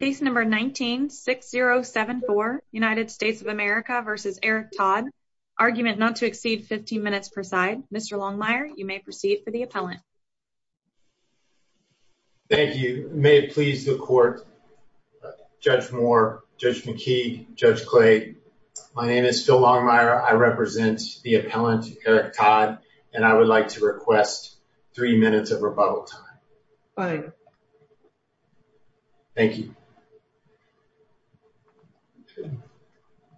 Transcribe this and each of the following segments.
Case number 19-6074 United States of America v. Eric Todd Argument not to exceed 15 minutes per side Mr. Longmire you may proceed for the appellant Thank you may it please the court Judge Moore, Judge McKee, Judge Clay my name is Phil Longmire I represent the appellant Eric Todd and I would like to request three minutes of rebuttal time Fine thank you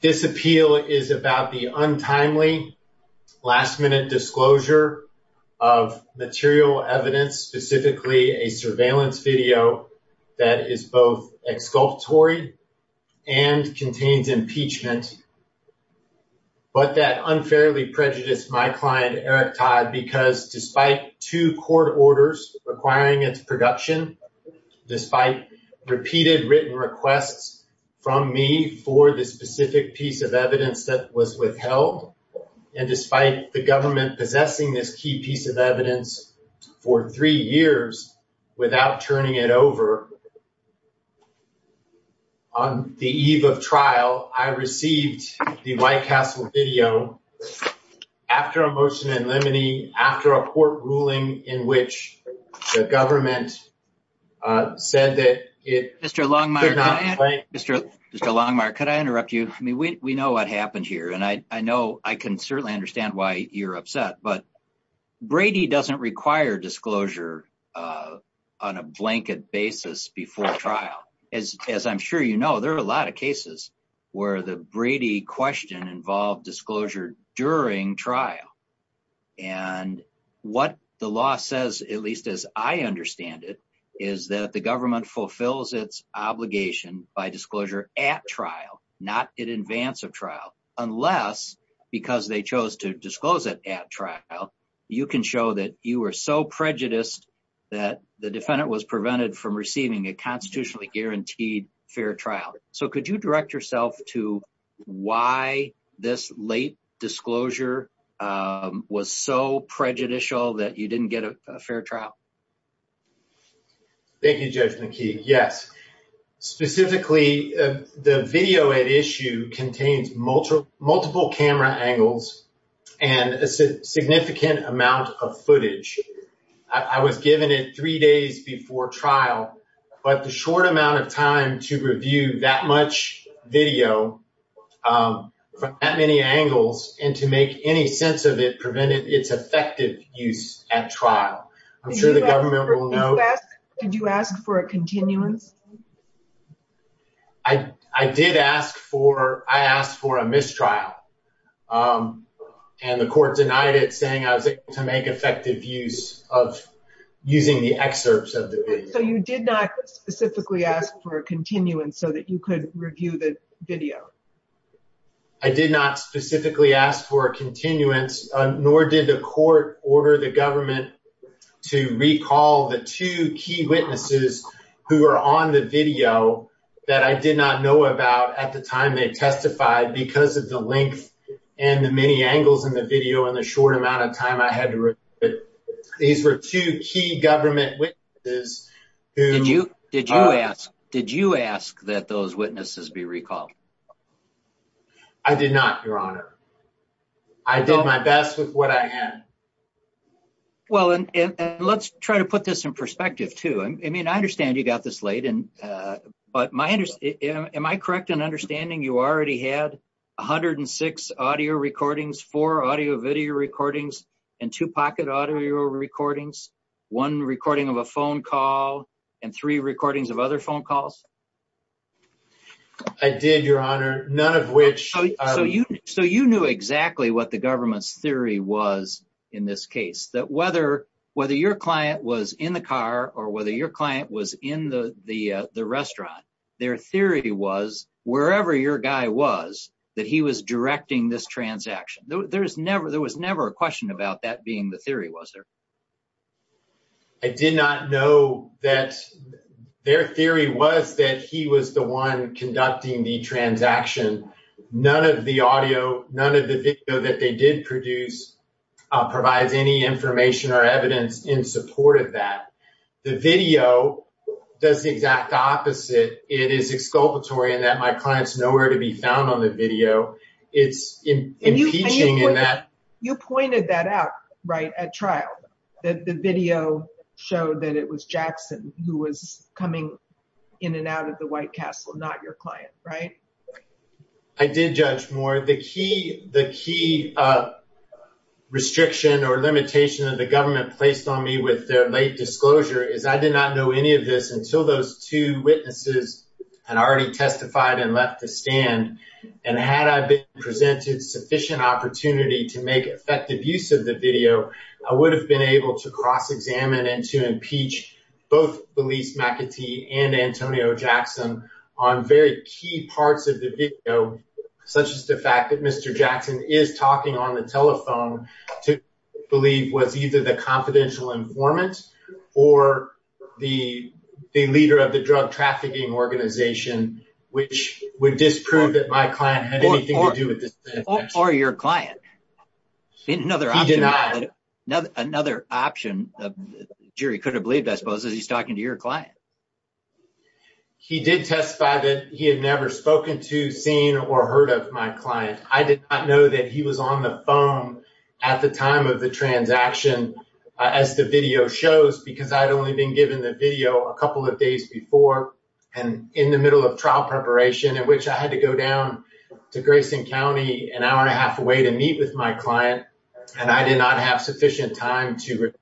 This appeal is about the untimely last-minute disclosure of material evidence specifically a surveillance video that is both exculpatory and contains impeachment but that unfairly prejudiced my client Eric Todd because despite two court orders requiring its production despite repeated written requests from me for the specific piece of evidence that was withheld and despite the government possessing this key piece of evidence for three years without turning it over on the eve of trial I received the White Castle video after a motion in limine after a court ruling in which the government said that it Mr. Longmire could I interrupt you I mean we know what happened here and I know I can certainly understand why you're upset but Brady doesn't require disclosure on a blanket basis before trial as I'm sure you know there are a lot of cases where the Brady question involved disclosure during trial and what the law says at least as I understand it is that the government fulfills its obligation by disclosure at trial not in advance of trial unless because they chose to disclose it at trial you can show that you were so prejudiced that the defendant was prevented from receiving a constitutionally guaranteed fair trial so could you direct yourself to why this late disclosure was so prejudicial that you didn't get a fair trial thank you Judge McKee yes specifically the video at issue contains multiple camera angles and a significant amount of footage I was given it three days before trial but the short amount of time to review that much video from that many angles and to make any sense of it prevented its effective use at trial I'm sure the government will know did you ask for a continuance I did ask for I asked for a mistrial and the court denied it saying I was able to make effective use of using the excerpts of the video so you did not specifically ask for a continuance so that you review the video I did not specifically ask for a continuance nor did the court order the government to recall the two key witnesses who are on the video that I did not know about at the time they testified because of the length and the many angles in the video in the short amount of time I recall I did not your honor I did my best with what I had well and let's try to put this in perspective too I mean I understand you got this late and uh but my interest am I correct in understanding you already had 106 audio recordings four audio video recordings and two pocket audio recordings one recording of a phone call and three recordings of other phone calls I did your honor none of which so you so you knew exactly what the government's theory was in this case that whether whether your client was in the car or whether your client was in the the the restaurant their theory was wherever your guy was that he was directing this transaction there was never there was never a question about that being the theory was there I did not know that their theory was that he was the one conducting the transaction none of the audio none of the video that they did produce provides any information or evidence in support of that the video does the exact opposite it is exculpatory and that my client's nowhere to that the video showed that it was Jackson who was coming in and out of the White Castle not your client right I did judge more the key the key uh restriction or limitation that the government placed on me with their late disclosure is I did not know any of this until those two witnesses had already testified and left the stand and had I been presented sufficient opportunity to make effective use of the video I would have been able to cross-examine and to impeach both Belize McAtee and Antonio Jackson on very key parts of the video such as the fact that Mr. Jackson is talking on the telephone to believe was either the confidential informant or the the leader of the drug trafficking organization which would disprove that my client another option another option jury could have believed I suppose as he's talking to your client he did testify that he had never spoken to seen or heard of my client I did not know that he was on the phone at the time of the transaction as the video shows because I had only been given the video a couple of days before and in the middle of trial preparation in which I have to wait and meet with my client and I did not have sufficient time to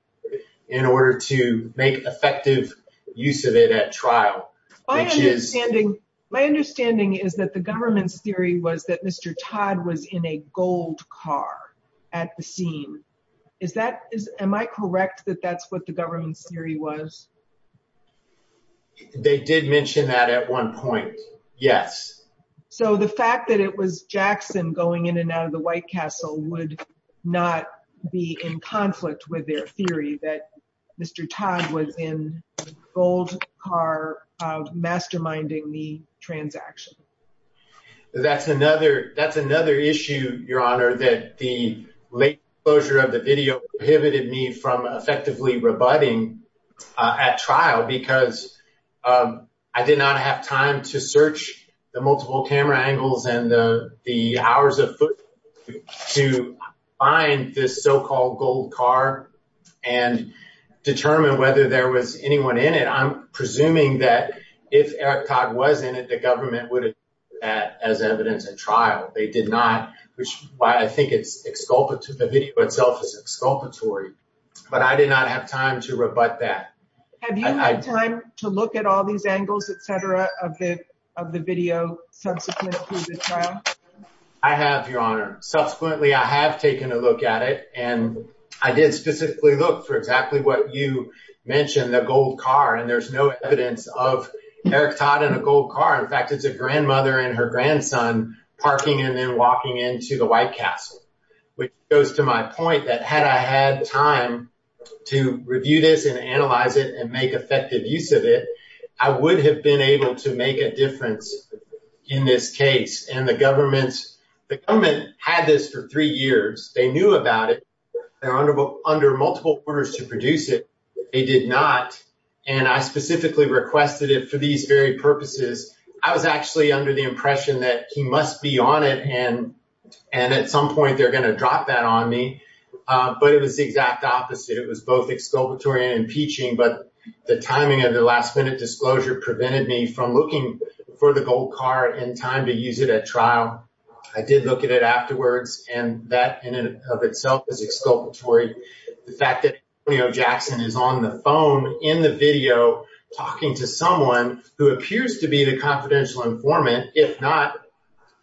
in order to make effective use of it at trial which is standing my understanding is that the government's theory was that Mr. Todd was in a gold car at the scene is that is am I correct that that's what the government's theory was they did mention that at one point yes so the fact that it was Jackson going in and out of the White Castle would not be in conflict with their theory that Mr. Todd was in gold car masterminding the transaction that's another that's another issue your honor that the late closure of the video prohibited me from effectively rebutting at trial because I did not have time to search the multiple camera angles and the the hours of to find this so-called gold car and determine whether there was anyone in it I'm presuming that if Eric Todd was in it the government would have that as evidence at trial they did not which why I think it's exculpative the video itself is exculpatory but I did not have time to rebut that have you had time to look at all these angles etc of the of the video subsequently I have your honor subsequently I have taken a look at it and I did specifically look for exactly what you mentioned the gold car and there's no evidence of Eric Todd in a gold car in fact it's a grandmother and her grandson parking and then walking into the White Castle which goes to my point that had I had time to review this and analyze it and make effective use of it I would have been able to make a difference in this case and the government's the government had this for three years they knew about it they're under under multiple orders to produce it they did not and I specifically requested it for these very purposes I was actually under the impression that he must be on it and and at some point they're going to drop that on me but it was the exact opposite it was both exculpatory and impeaching but the timing of the last minute disclosure prevented me from looking for the gold car in time to use it at trial I did look at it afterwards and that in and of itself is exculpatory the fact that Antonio Jackson is on the phone in the video talking to someone who appears to be the confidential informant if not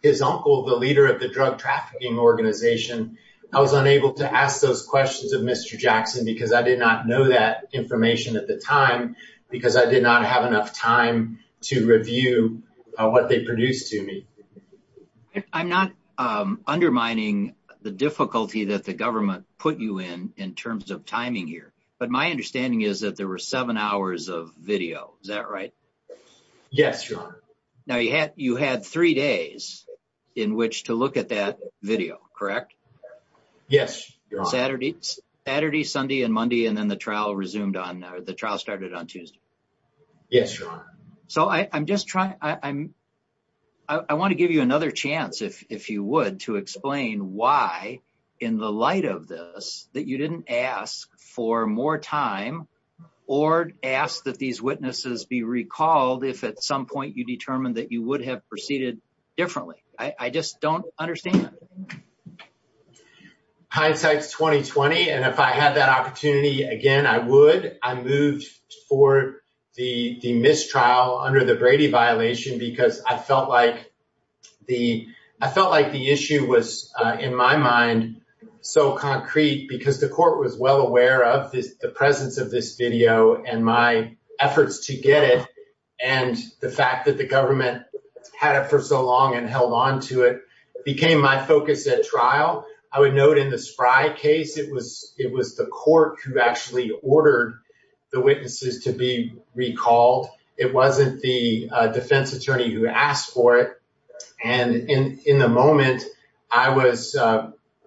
his uncle the leader of the drug trafficking organization I was unable to ask those questions of Mr. Jackson because I did not know that information at the time because I did not have enough time to review what they produced to me I'm not undermining the difficulty that the government put you in in terms of timing here but my understanding is that there were seven hours of video is that right yes now you had you had three days in which to look at that video correct yes Saturday Saturday Sunday and Monday and then the trial resumed on the trial started on Tuesday yes so I I'm just trying I'm I want to give you another chance if if you would to explain why in the light of this that you didn't ask for more time or ask that these witnesses be recalled if at some point you determine that you would have proceeded differently I I just don't understand hindsight's 2020 and if I had that opportunity again I would I moved for the the trial under the Brady violation because I felt like the I felt like the issue was in my mind so concrete because the court was well aware of the presence of this video and my efforts to get it and the fact that the government had it for so long and held on to it became my focus at trial I would note in the spry case it was it was the court who actually ordered the witnesses to be recalled it wasn't the defense attorney who asked for it and in in the moment I was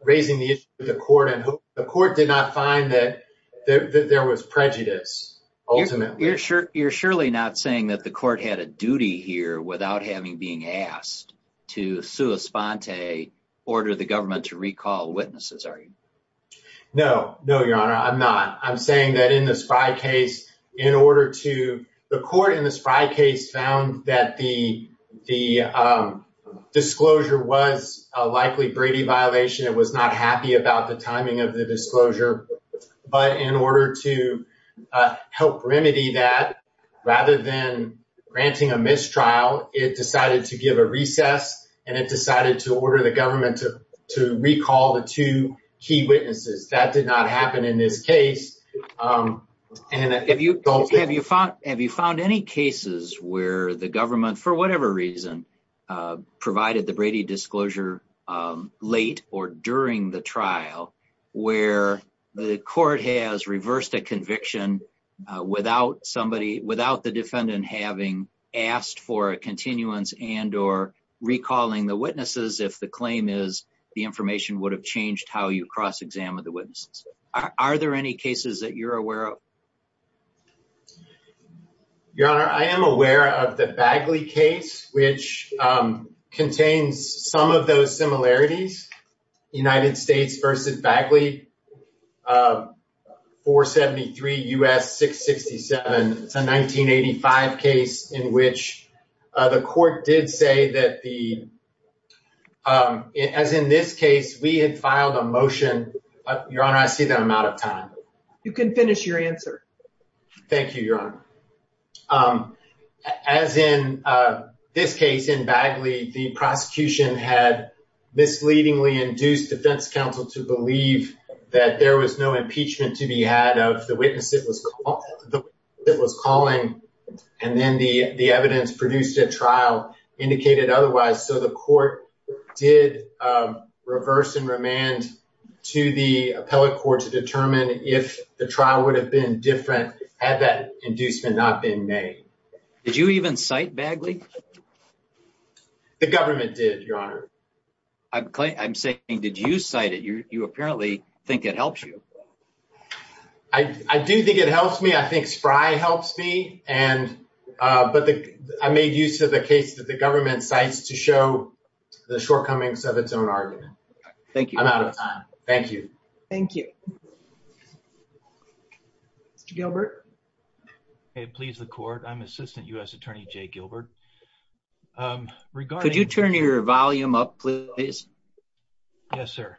raising the issue with the court and the court did not find that there was prejudice ultimately you're sure you're surely not saying that the court had a duty here without having being asked to sua sponte order the government to recall witnesses are you no no your honor I'm not I'm the court in the spry case found that the the disclosure was a likely Brady violation it was not happy about the timing of the disclosure but in order to help remedy that rather than granting a mistrial it decided to give a recess and it decided to order the government to to key witnesses that did not happen in this case and if you don't have you found have you found any cases where the government for whatever reason provided the Brady disclosure late or during the trial where the court has reversed a conviction without somebody without the defendant having asked for a continuance and or recalling the witnesses if the claim is the information would have changed how you cross-examine the witnesses are there any cases that you're aware of your honor I am aware of the Bagley case which contains some of those similarities United States versus Bagley 473 U.S. 667 it's a 1985 case in which the court did say that the um as in this case we had filed a motion your honor I see that I'm out of time you can finish your answer thank you your honor um as in uh this case in Bagley the prosecution had misleadingly induced defense counsel to believe that there was no impeachment to be had of the witness it was it was calling and then the the evidence produced at trial indicated otherwise so the court did um reverse and remand to the appellate court to determine if the trial would have been different had that inducement not been made did you even cite Bagley the government did your honor I'm saying did you cite it you you apparently think it helps you I I do think it helps me I think spry helps me and uh but the I made use of the case that the government cites to show the shortcomings of its own argument thank you I'm out of time thank you thank you Mr. Gilbert please the court I'm assistant U.S. attorney Jay Gilbert um regarding could you turn your volume up please yes sir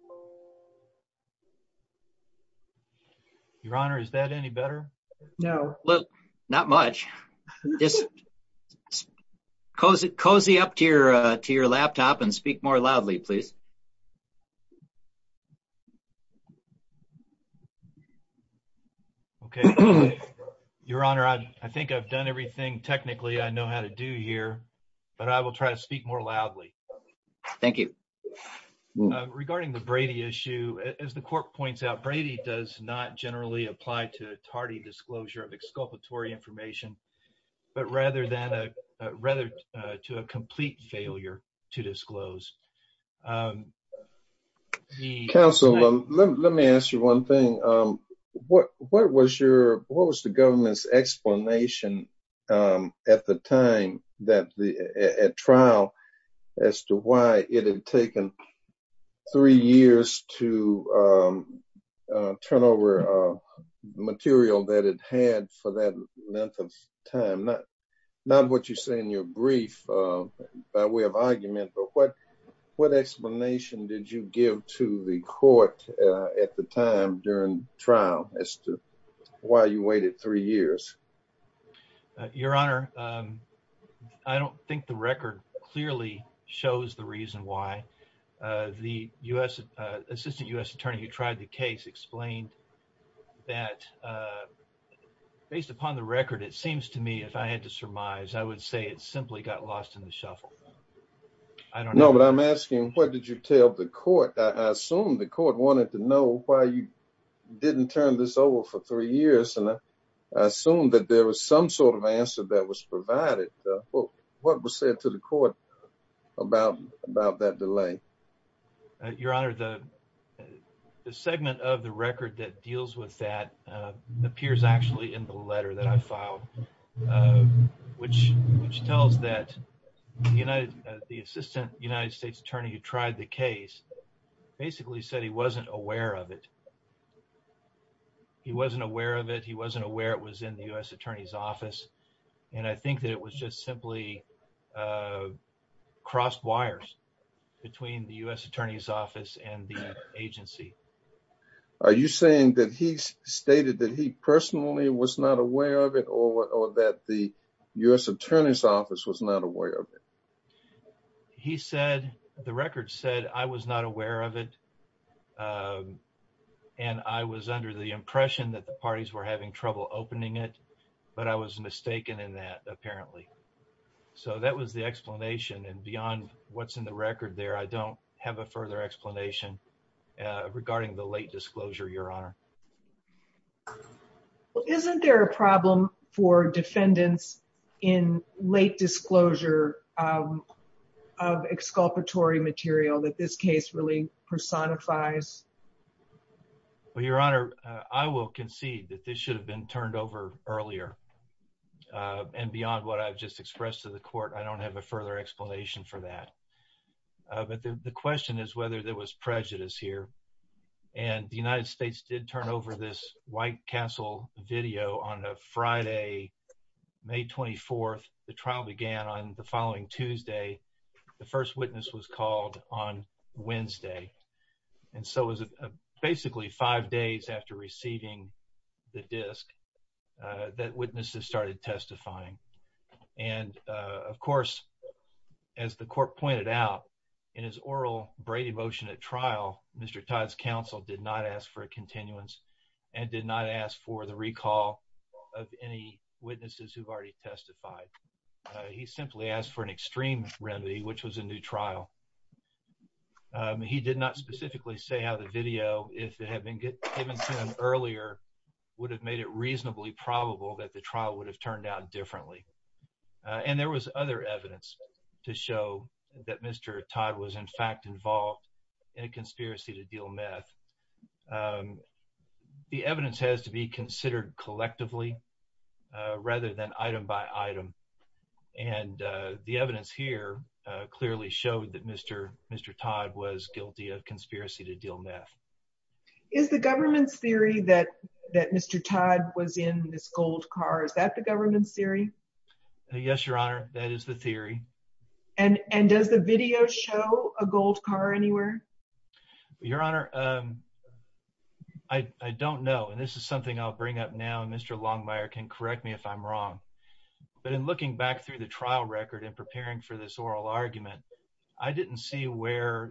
so your honor is that any better no look not much just cozy cozy up to your uh to your laptop and speak more loudly please okay your honor I think I've done everything technically I know how to do here but I will try to speak more loudly thank you regarding the Brady issue as the court points out Brady does not generally apply to a tardy disclosure of exculpatory information but rather than a rather to a complete failure to disclose um the council let me ask you one thing um what what was your what was the government's explanation um at the time that the at trial as to why it had taken three years to um uh turn over uh material that it had for that length of time not not what you say in your brief uh by way of argument but what what explanation did you give to the court uh at the time during trial as to why you waited three years your honor um I don't think the record clearly shows the reason why uh the U.S. uh assistant U.S. attorney who tried the case explained that uh based upon the record it seems to me if I had to surmise I would say it simply got lost in the shuffle I don't know but I'm asking what did you tell the court I assume the court wanted to know why you didn't turn this over for three years and I assumed that there was some sort of answer that was provided what was said to the court about about that delay your honor the the segment of the record that deals with that uh appears actually in the letter that I filed uh which which tells that you know the assistant United States attorney who tried the case basically said he wasn't aware of it he wasn't aware of it he wasn't aware it was in the U.S. attorney's office and I think that it was just simply uh crossed wires between the U.S. attorney's office and the agency are you saying that he stated that he personally was not aware of it or that the U.S. attorney's office was not aware of it he said the record said I was not aware of it and I was under the impression that the parties were having trouble opening it but I was mistaken in that apparently so that was the explanation and beyond what's in the record there I don't have a further explanation uh regarding the late disclosure your honor well isn't there a problem for defendants in late disclosure of exculpatory material that this case really personifies well your honor I will concede that this should have been turned over earlier and beyond what I've just expressed to the court I don't have a further explanation for that but the question is whether there was prejudice here and the United States did turn over this White Castle video on a Friday May 24th the trial began on the following Tuesday the first witness was called on Wednesday and so was it basically five days after receiving the disc that witnesses started testifying and of course as the court pointed out in his oral Brady motion at trial Mr. Todd's counsel did not ask for a continuance and did not ask for the recall of any witnesses who've already testified he simply asked for an extreme remedy which was a new trial he did not specifically say how the video if it had been given to him earlier would have made it reasonably probable that the trial would have turned out differently and there was other evidence to show that Mr. Todd was in fact involved in a conspiracy to deal meth the evidence has to be considered collectively rather than item by item and the evidence here clearly showed that Mr. Mr. Todd was guilty of conspiracy to deal meth is the government's theory that that Mr. Todd was in Miss Gold Car is that the government's theory yes your honor that is the theory and and does the video show a gold car anywhere your honor um I I don't know and this is something I'll bring up now and Mr. Longmire can correct me if I'm wrong but in looking back through the trial record and preparing for this oral argument I didn't see where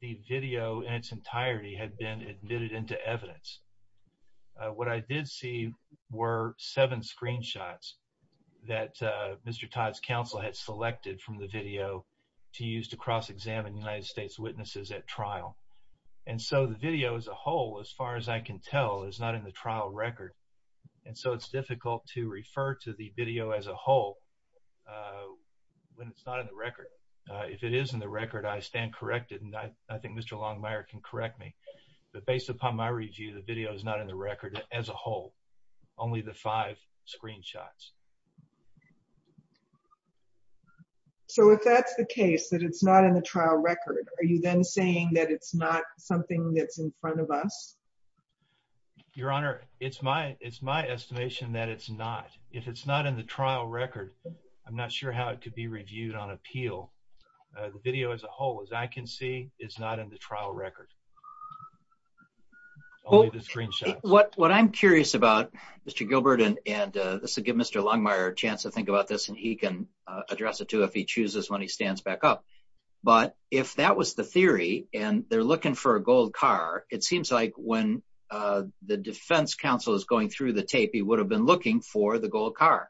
the video in its entirety had been admitted into evidence what I did see were seven screenshots that uh Mr. Todd's counsel had selected from the video to use to cross-examine United States witnesses at trial and so the video as a whole as far as I can tell is not in the trial record and so it's difficult to refer to the video as a whole when it's not in the record if it is in the record I stand corrected and I is not in the record as a whole only the five screenshots so if that's the case that it's not in the trial record are you then saying that it's not something that's in front of us your honor it's my it's my estimation that it's not if it's not in the trial record I'm not sure how it could be reviewed on appeal the video as a whole as I can see is not in the trial record only the screenshots what what I'm curious about Mr. Gilbert and and this will give Mr. Longmire a chance to think about this and he can address it too if he chooses when he stands back up but if that was the theory and they're looking for a gold car it seems like when the defense counsel is going through the tape he would have been looking for the gold car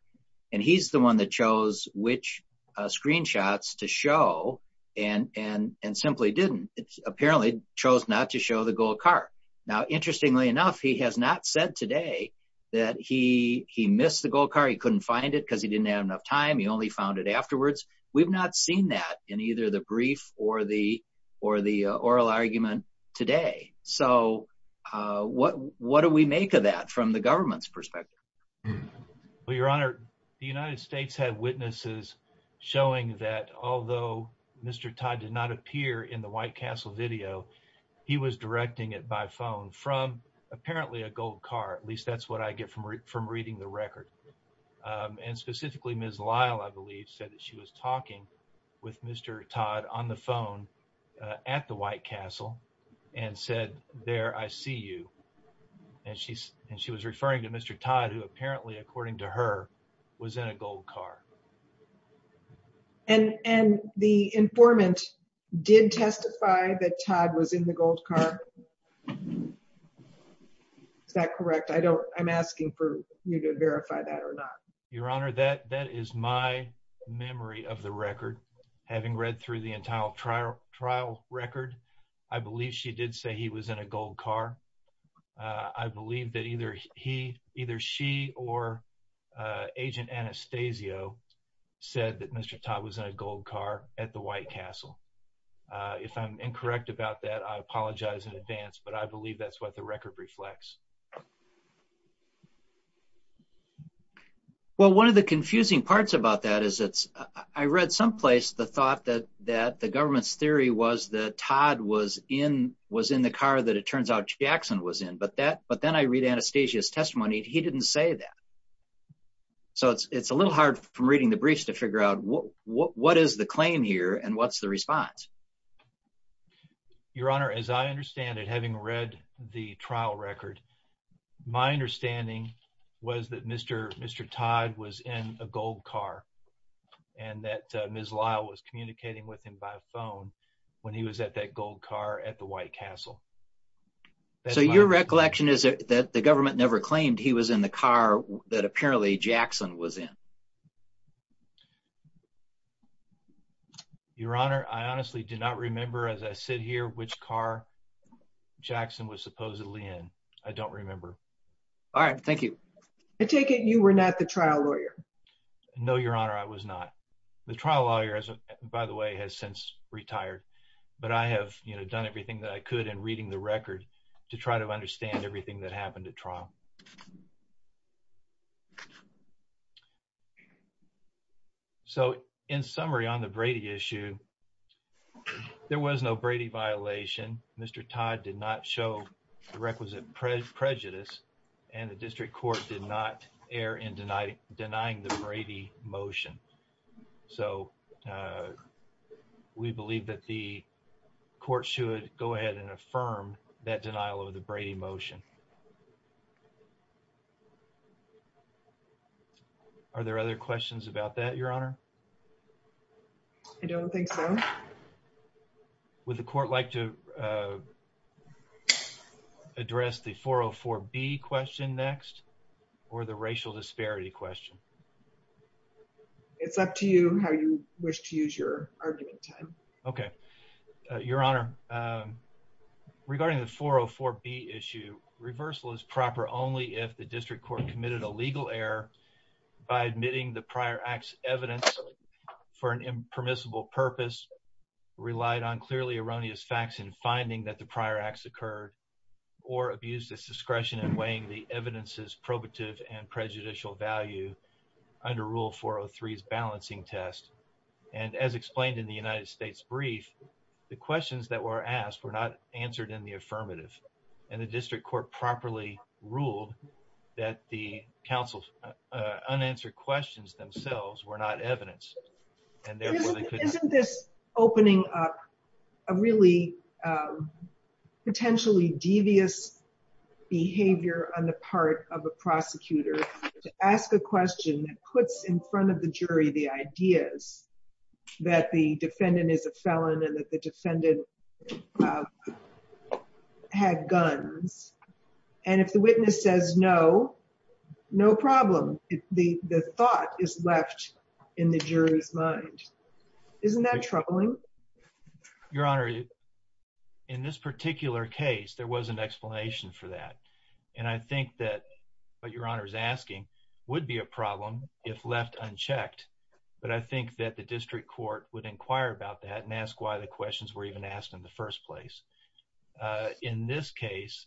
and he's the one that chose which screenshots to show and and and simply didn't it's apparently chose not to show the gold car now interestingly enough he has not said today that he he missed the gold car he couldn't find it because he didn't have enough time he only found it afterwards we've not seen that in either the brief or the or the oral argument today so uh what what do we make of that from the government's perspective well your honor the United States had witnesses showing that although Mr. Todd did not appear in the White Castle video he was directing it by phone from apparently a gold car at least that's what I get from from reading the record and specifically Ms. Lyle I believe said that she was talking with Mr. Todd on the phone at the White Castle and said there I see you and she's and she was was in a gold car and and the informant did testify that Todd was in the gold car is that correct I don't I'm asking for you to verify that or not your honor that that is my memory of the record having read through the entire trial record I believe she did say he was in a gold car I believe that either he either she or Agent Anastasio said that Mr. Todd was in a gold car at the White Castle if I'm incorrect about that I apologize in advance but I believe that's what the record reflects well one of the confusing parts about that is it's I read someplace the thought that that the government's theory was that Todd was in was in the car that it turns out Jackson was in but that but then I read Anastasio's testimony he didn't say that so it's it's a little hard from reading the briefs to figure out what what is the claim here and what's the response your honor as I understand it having read the trial record my understanding was that Mr. Todd was in a gold car and that Ms. Lyle was communicating with him by phone when he was at that gold car at the White Castle so your recollection is that the government never claimed he was in the car that apparently Jackson was in your honor I honestly do not remember as I sit here which car Jackson was supposedly in I don't remember all right thank you I take it you were not the trial lawyer no your honor I was not the trial lawyer by the way has since retired but I have you know done everything that I could in reading the record to try to understand everything that happened at the time I was there was no Brady violation Mr. Todd did not show the requisite prejudice and the district court did not err in denying the Brady motion so we believe that the court should go ahead and affirm that denial of the Brady motion are there other questions about that your honor I don't think so would the court like to address the 404 b question next or the racial disparity question it's up to you how you wish to use your argument time okay your honor regarding the 404 b issue reversal is proper only if the district court committed a legal error by admitting the prior acts evidence for an impermissible purpose relied on clearly erroneous facts in finding that the prior acts occurred or abused its discretion in weighing the evidence's probative and prejudicial value under rule 403's balancing test and as explained in the United States brief the questions that were asked were not answered in the affirmative and the district court properly ruled that the council's unanswered questions themselves were not evidence and therefore they couldn't isn't this opening up a really potentially devious behavior on the part of a prosecutor to ask a question that puts in front of the jury the ideas that the defendant is a felon and that defendant had guns and if the witness says no no problem the the thought is left in the jury's mind isn't that troubling your honor in this particular case there was an explanation for that and I think that what your honor is asking would be a problem if left unchecked but I think that the district court would inquire about that and ask why the questions were even asked in the first place in this case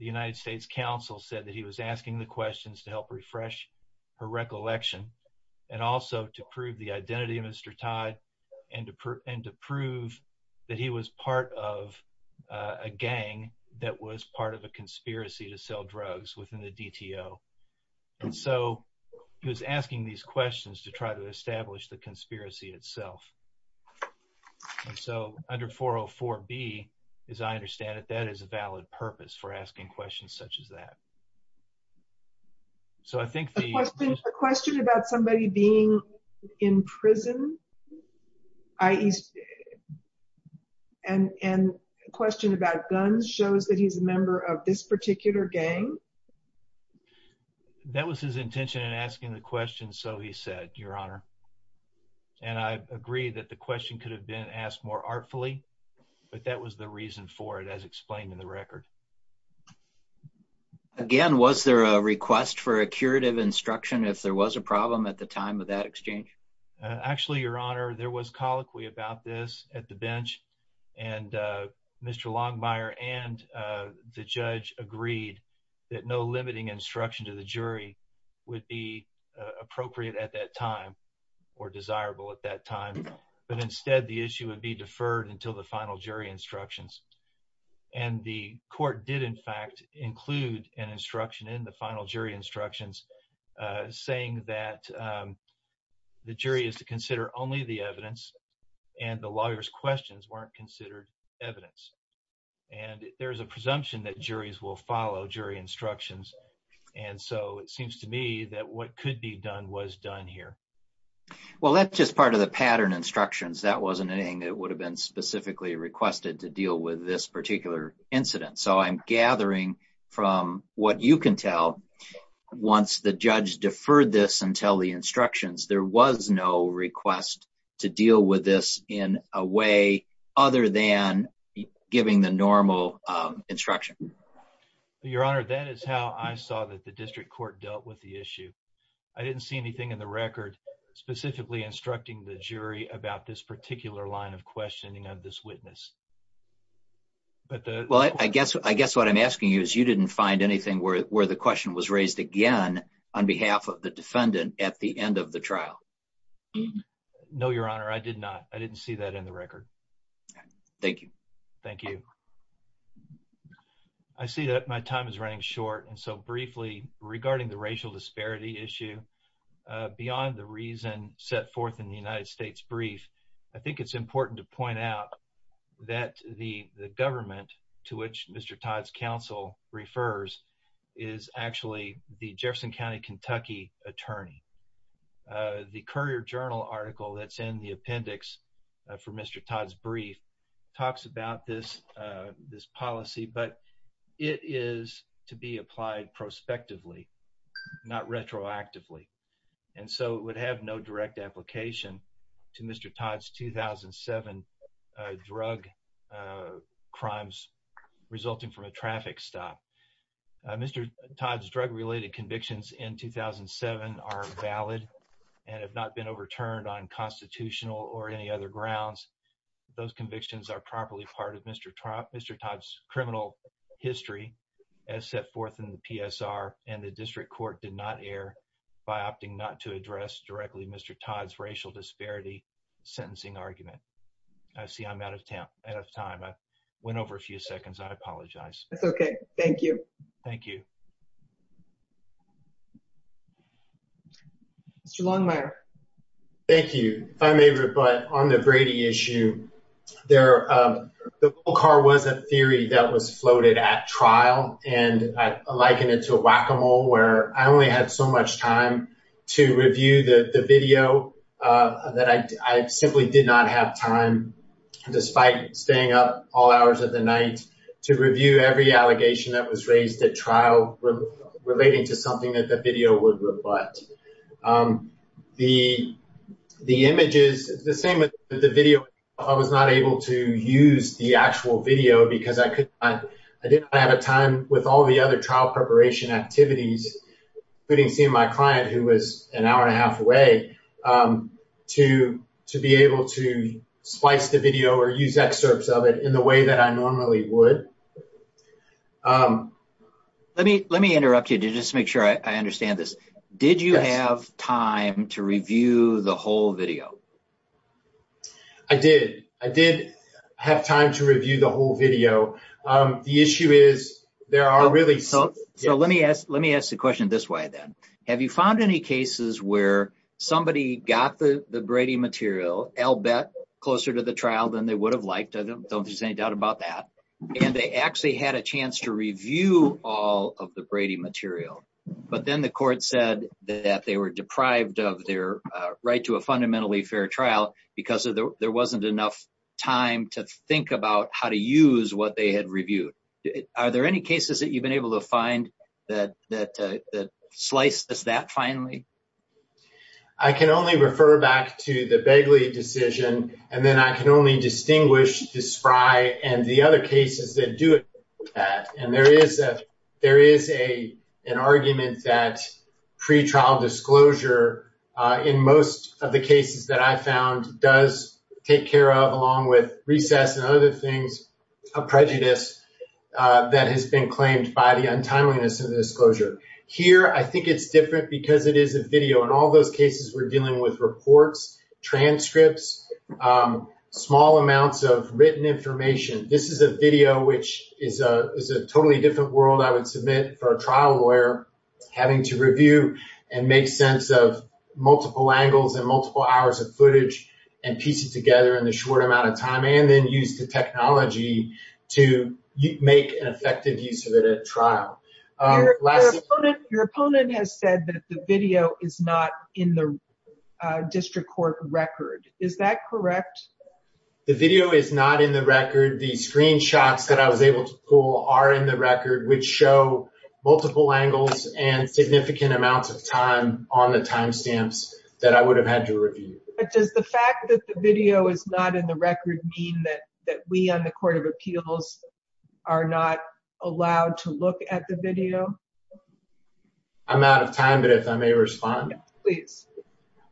the United States council said that he was asking the questions to help refresh her recollection and also to prove the identity of Mr. Todd and to prove and to prove that he was part of a gang that was part of a conspiracy to sell drugs within the DTO and so he was asking these questions to try to establish the conspiracy itself and so under 404 b as I understand it that is a valid purpose for asking questions such as that so I think the question about somebody being in prison i.e. and and a question about guns shows that he's a member of this particular gang that was his intention in asking the question so he said your honor and I agree that the question could have been asked more artfully but that was the reason for it as explained in the record again was there a request for a curative instruction if there was a problem at the time of that exchange actually your honor there was colloquy about this at the bench and uh Mr. Longmire and uh the judge agreed that no limiting instruction to the jury would be appropriate at that time or desirable at that time but instead the issue would be deferred until the final jury instructions and the court did in fact include an instruction in the final jury instructions uh saying that the jury is to consider only the evidence and the lawyer's questions weren't considered evidence and there's a presumption that juries will follow jury instructions and so it seems to me that what could be done was done here well that's just part of the pattern instructions that wasn't anything that would have been specifically requested to deal with this particular incident so I'm gathering from what you can tell once the judge deferred this until the instructions there was no request to deal with this in a way other than giving the normal instruction your honor that is how I saw that the district court dealt with the issue I didn't see anything in the record specifically instructing the jury about this particular line of questioning of this witness but the well I guess I guess what I'm asking you is you didn't find anything where the question was raised again on behalf of the defendant at the end of the trial no your honor I did not I didn't see that in the record thank you thank you I see that my time is running short and so briefly regarding the racial disparity issue beyond the reason set forth in the United States brief I think it's important to point out that the the government to which Mr. Todd's counsel refers is actually the Jefferson County Kentucky attorney the Courier Journal article that's in the appendix for Mr. Todd's brief talks about this this policy but it is to be applied prospectively not retroactively and so it would have no direct application to Mr. Todd's 2007 drug crimes resulting from a traffic stop Mr. Todd's drug-related convictions in 2007 are valid and have not been overturned on constitutional or any other grounds those convictions are properly part of Mr. Todd's criminal history as set forth in the PSR and the district court did not air by opting not to address directly Mr. Todd's racial disparity sentencing argument I see I'm out of time out of time I went over a few seconds I apologize that's okay thank you thank you Mr. Longmire thank you if I may rebut on the Brady issue there the car was a theory that was floated at trial and I liken it to whack-a-mole where I only had so much time to review the the video that I simply did not have time despite staying up all hours of the night to review every allegation that was raised at trial relating to something that the video would rebut the the images the same as the video I was not able to use the actual video because I could I didn't have a time with all the other trial preparation activities including seeing my client who was an hour and a half away to to be able to splice the video or use excerpts of it in the way that I normally would let me let me interrupt you to just make sure I understand this did you have time to review the whole video I did I did have time to review the whole video the issue is there are really so so let me ask let me ask the question this way then have you found any cases where somebody got the the Brady material I'll bet closer to the trial than they would have liked I don't there's any doubt about that and they actually had a chance to review all of the Brady material but then the court said that they were deprived of their right to a fundamentally fair trial because there wasn't enough time to think about how to use what they had reviewed are there any cases that you've been able to find that that slices that finally I can only refer back to the Begley decision and then I can only distinguish the spry and the other cases that do that and there is a there is a an argument that pre-trial disclosure in most of the cases that I found does take care of along with recess and other things a prejudice that has been claimed by the untimeliness of the disclosure here I think it's different because it is a video in all those cases we're dealing with reports transcripts small amounts of written information this is a video which is a is a totally different world I would submit for a trial lawyer having to review and make sense of multiple angles and multiple hours of footage and piece it together in the short amount of time and then use the technology to make an effective use of it at trial your opponent has said that the video is not in the district court record is that correct the video is not in the record the screenshots that I was able to pull are in the record which show multiple angles and significant amounts of time on the time stamps that I would have had to review but does the fact that the video is not in the record mean that that we on the court of appeals are not allowed to look at the video I'm out of time but if I may respond please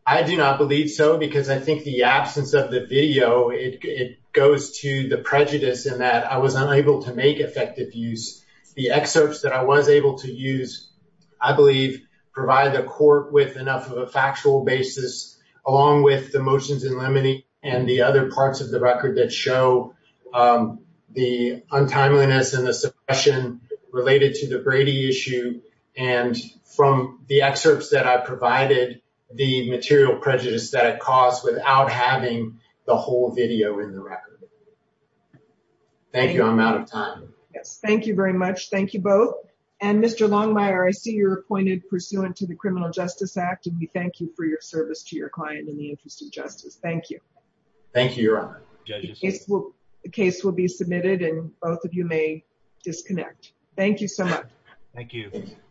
I do not believe so because I think the absence of the video it goes to the prejudice in that I was unable to make effective use the excerpts that I was able to use I believe provide the court with enough of a factual basis along with the motions in limine and the other parts of the record that show the untimeliness and the suppression related to the Brady issue and from the excerpts that I provided the material prejudice that it caused without having the whole video in the record thank you I'm out of time yes thank you very much thank you both and Mr. Longmire I see you're appointed pursuant to the criminal justice act and we thank you for your service to your client in the interest of justice thank you thank you your honor judges the case will be submitted and both of you may disconnect thank you so much thank you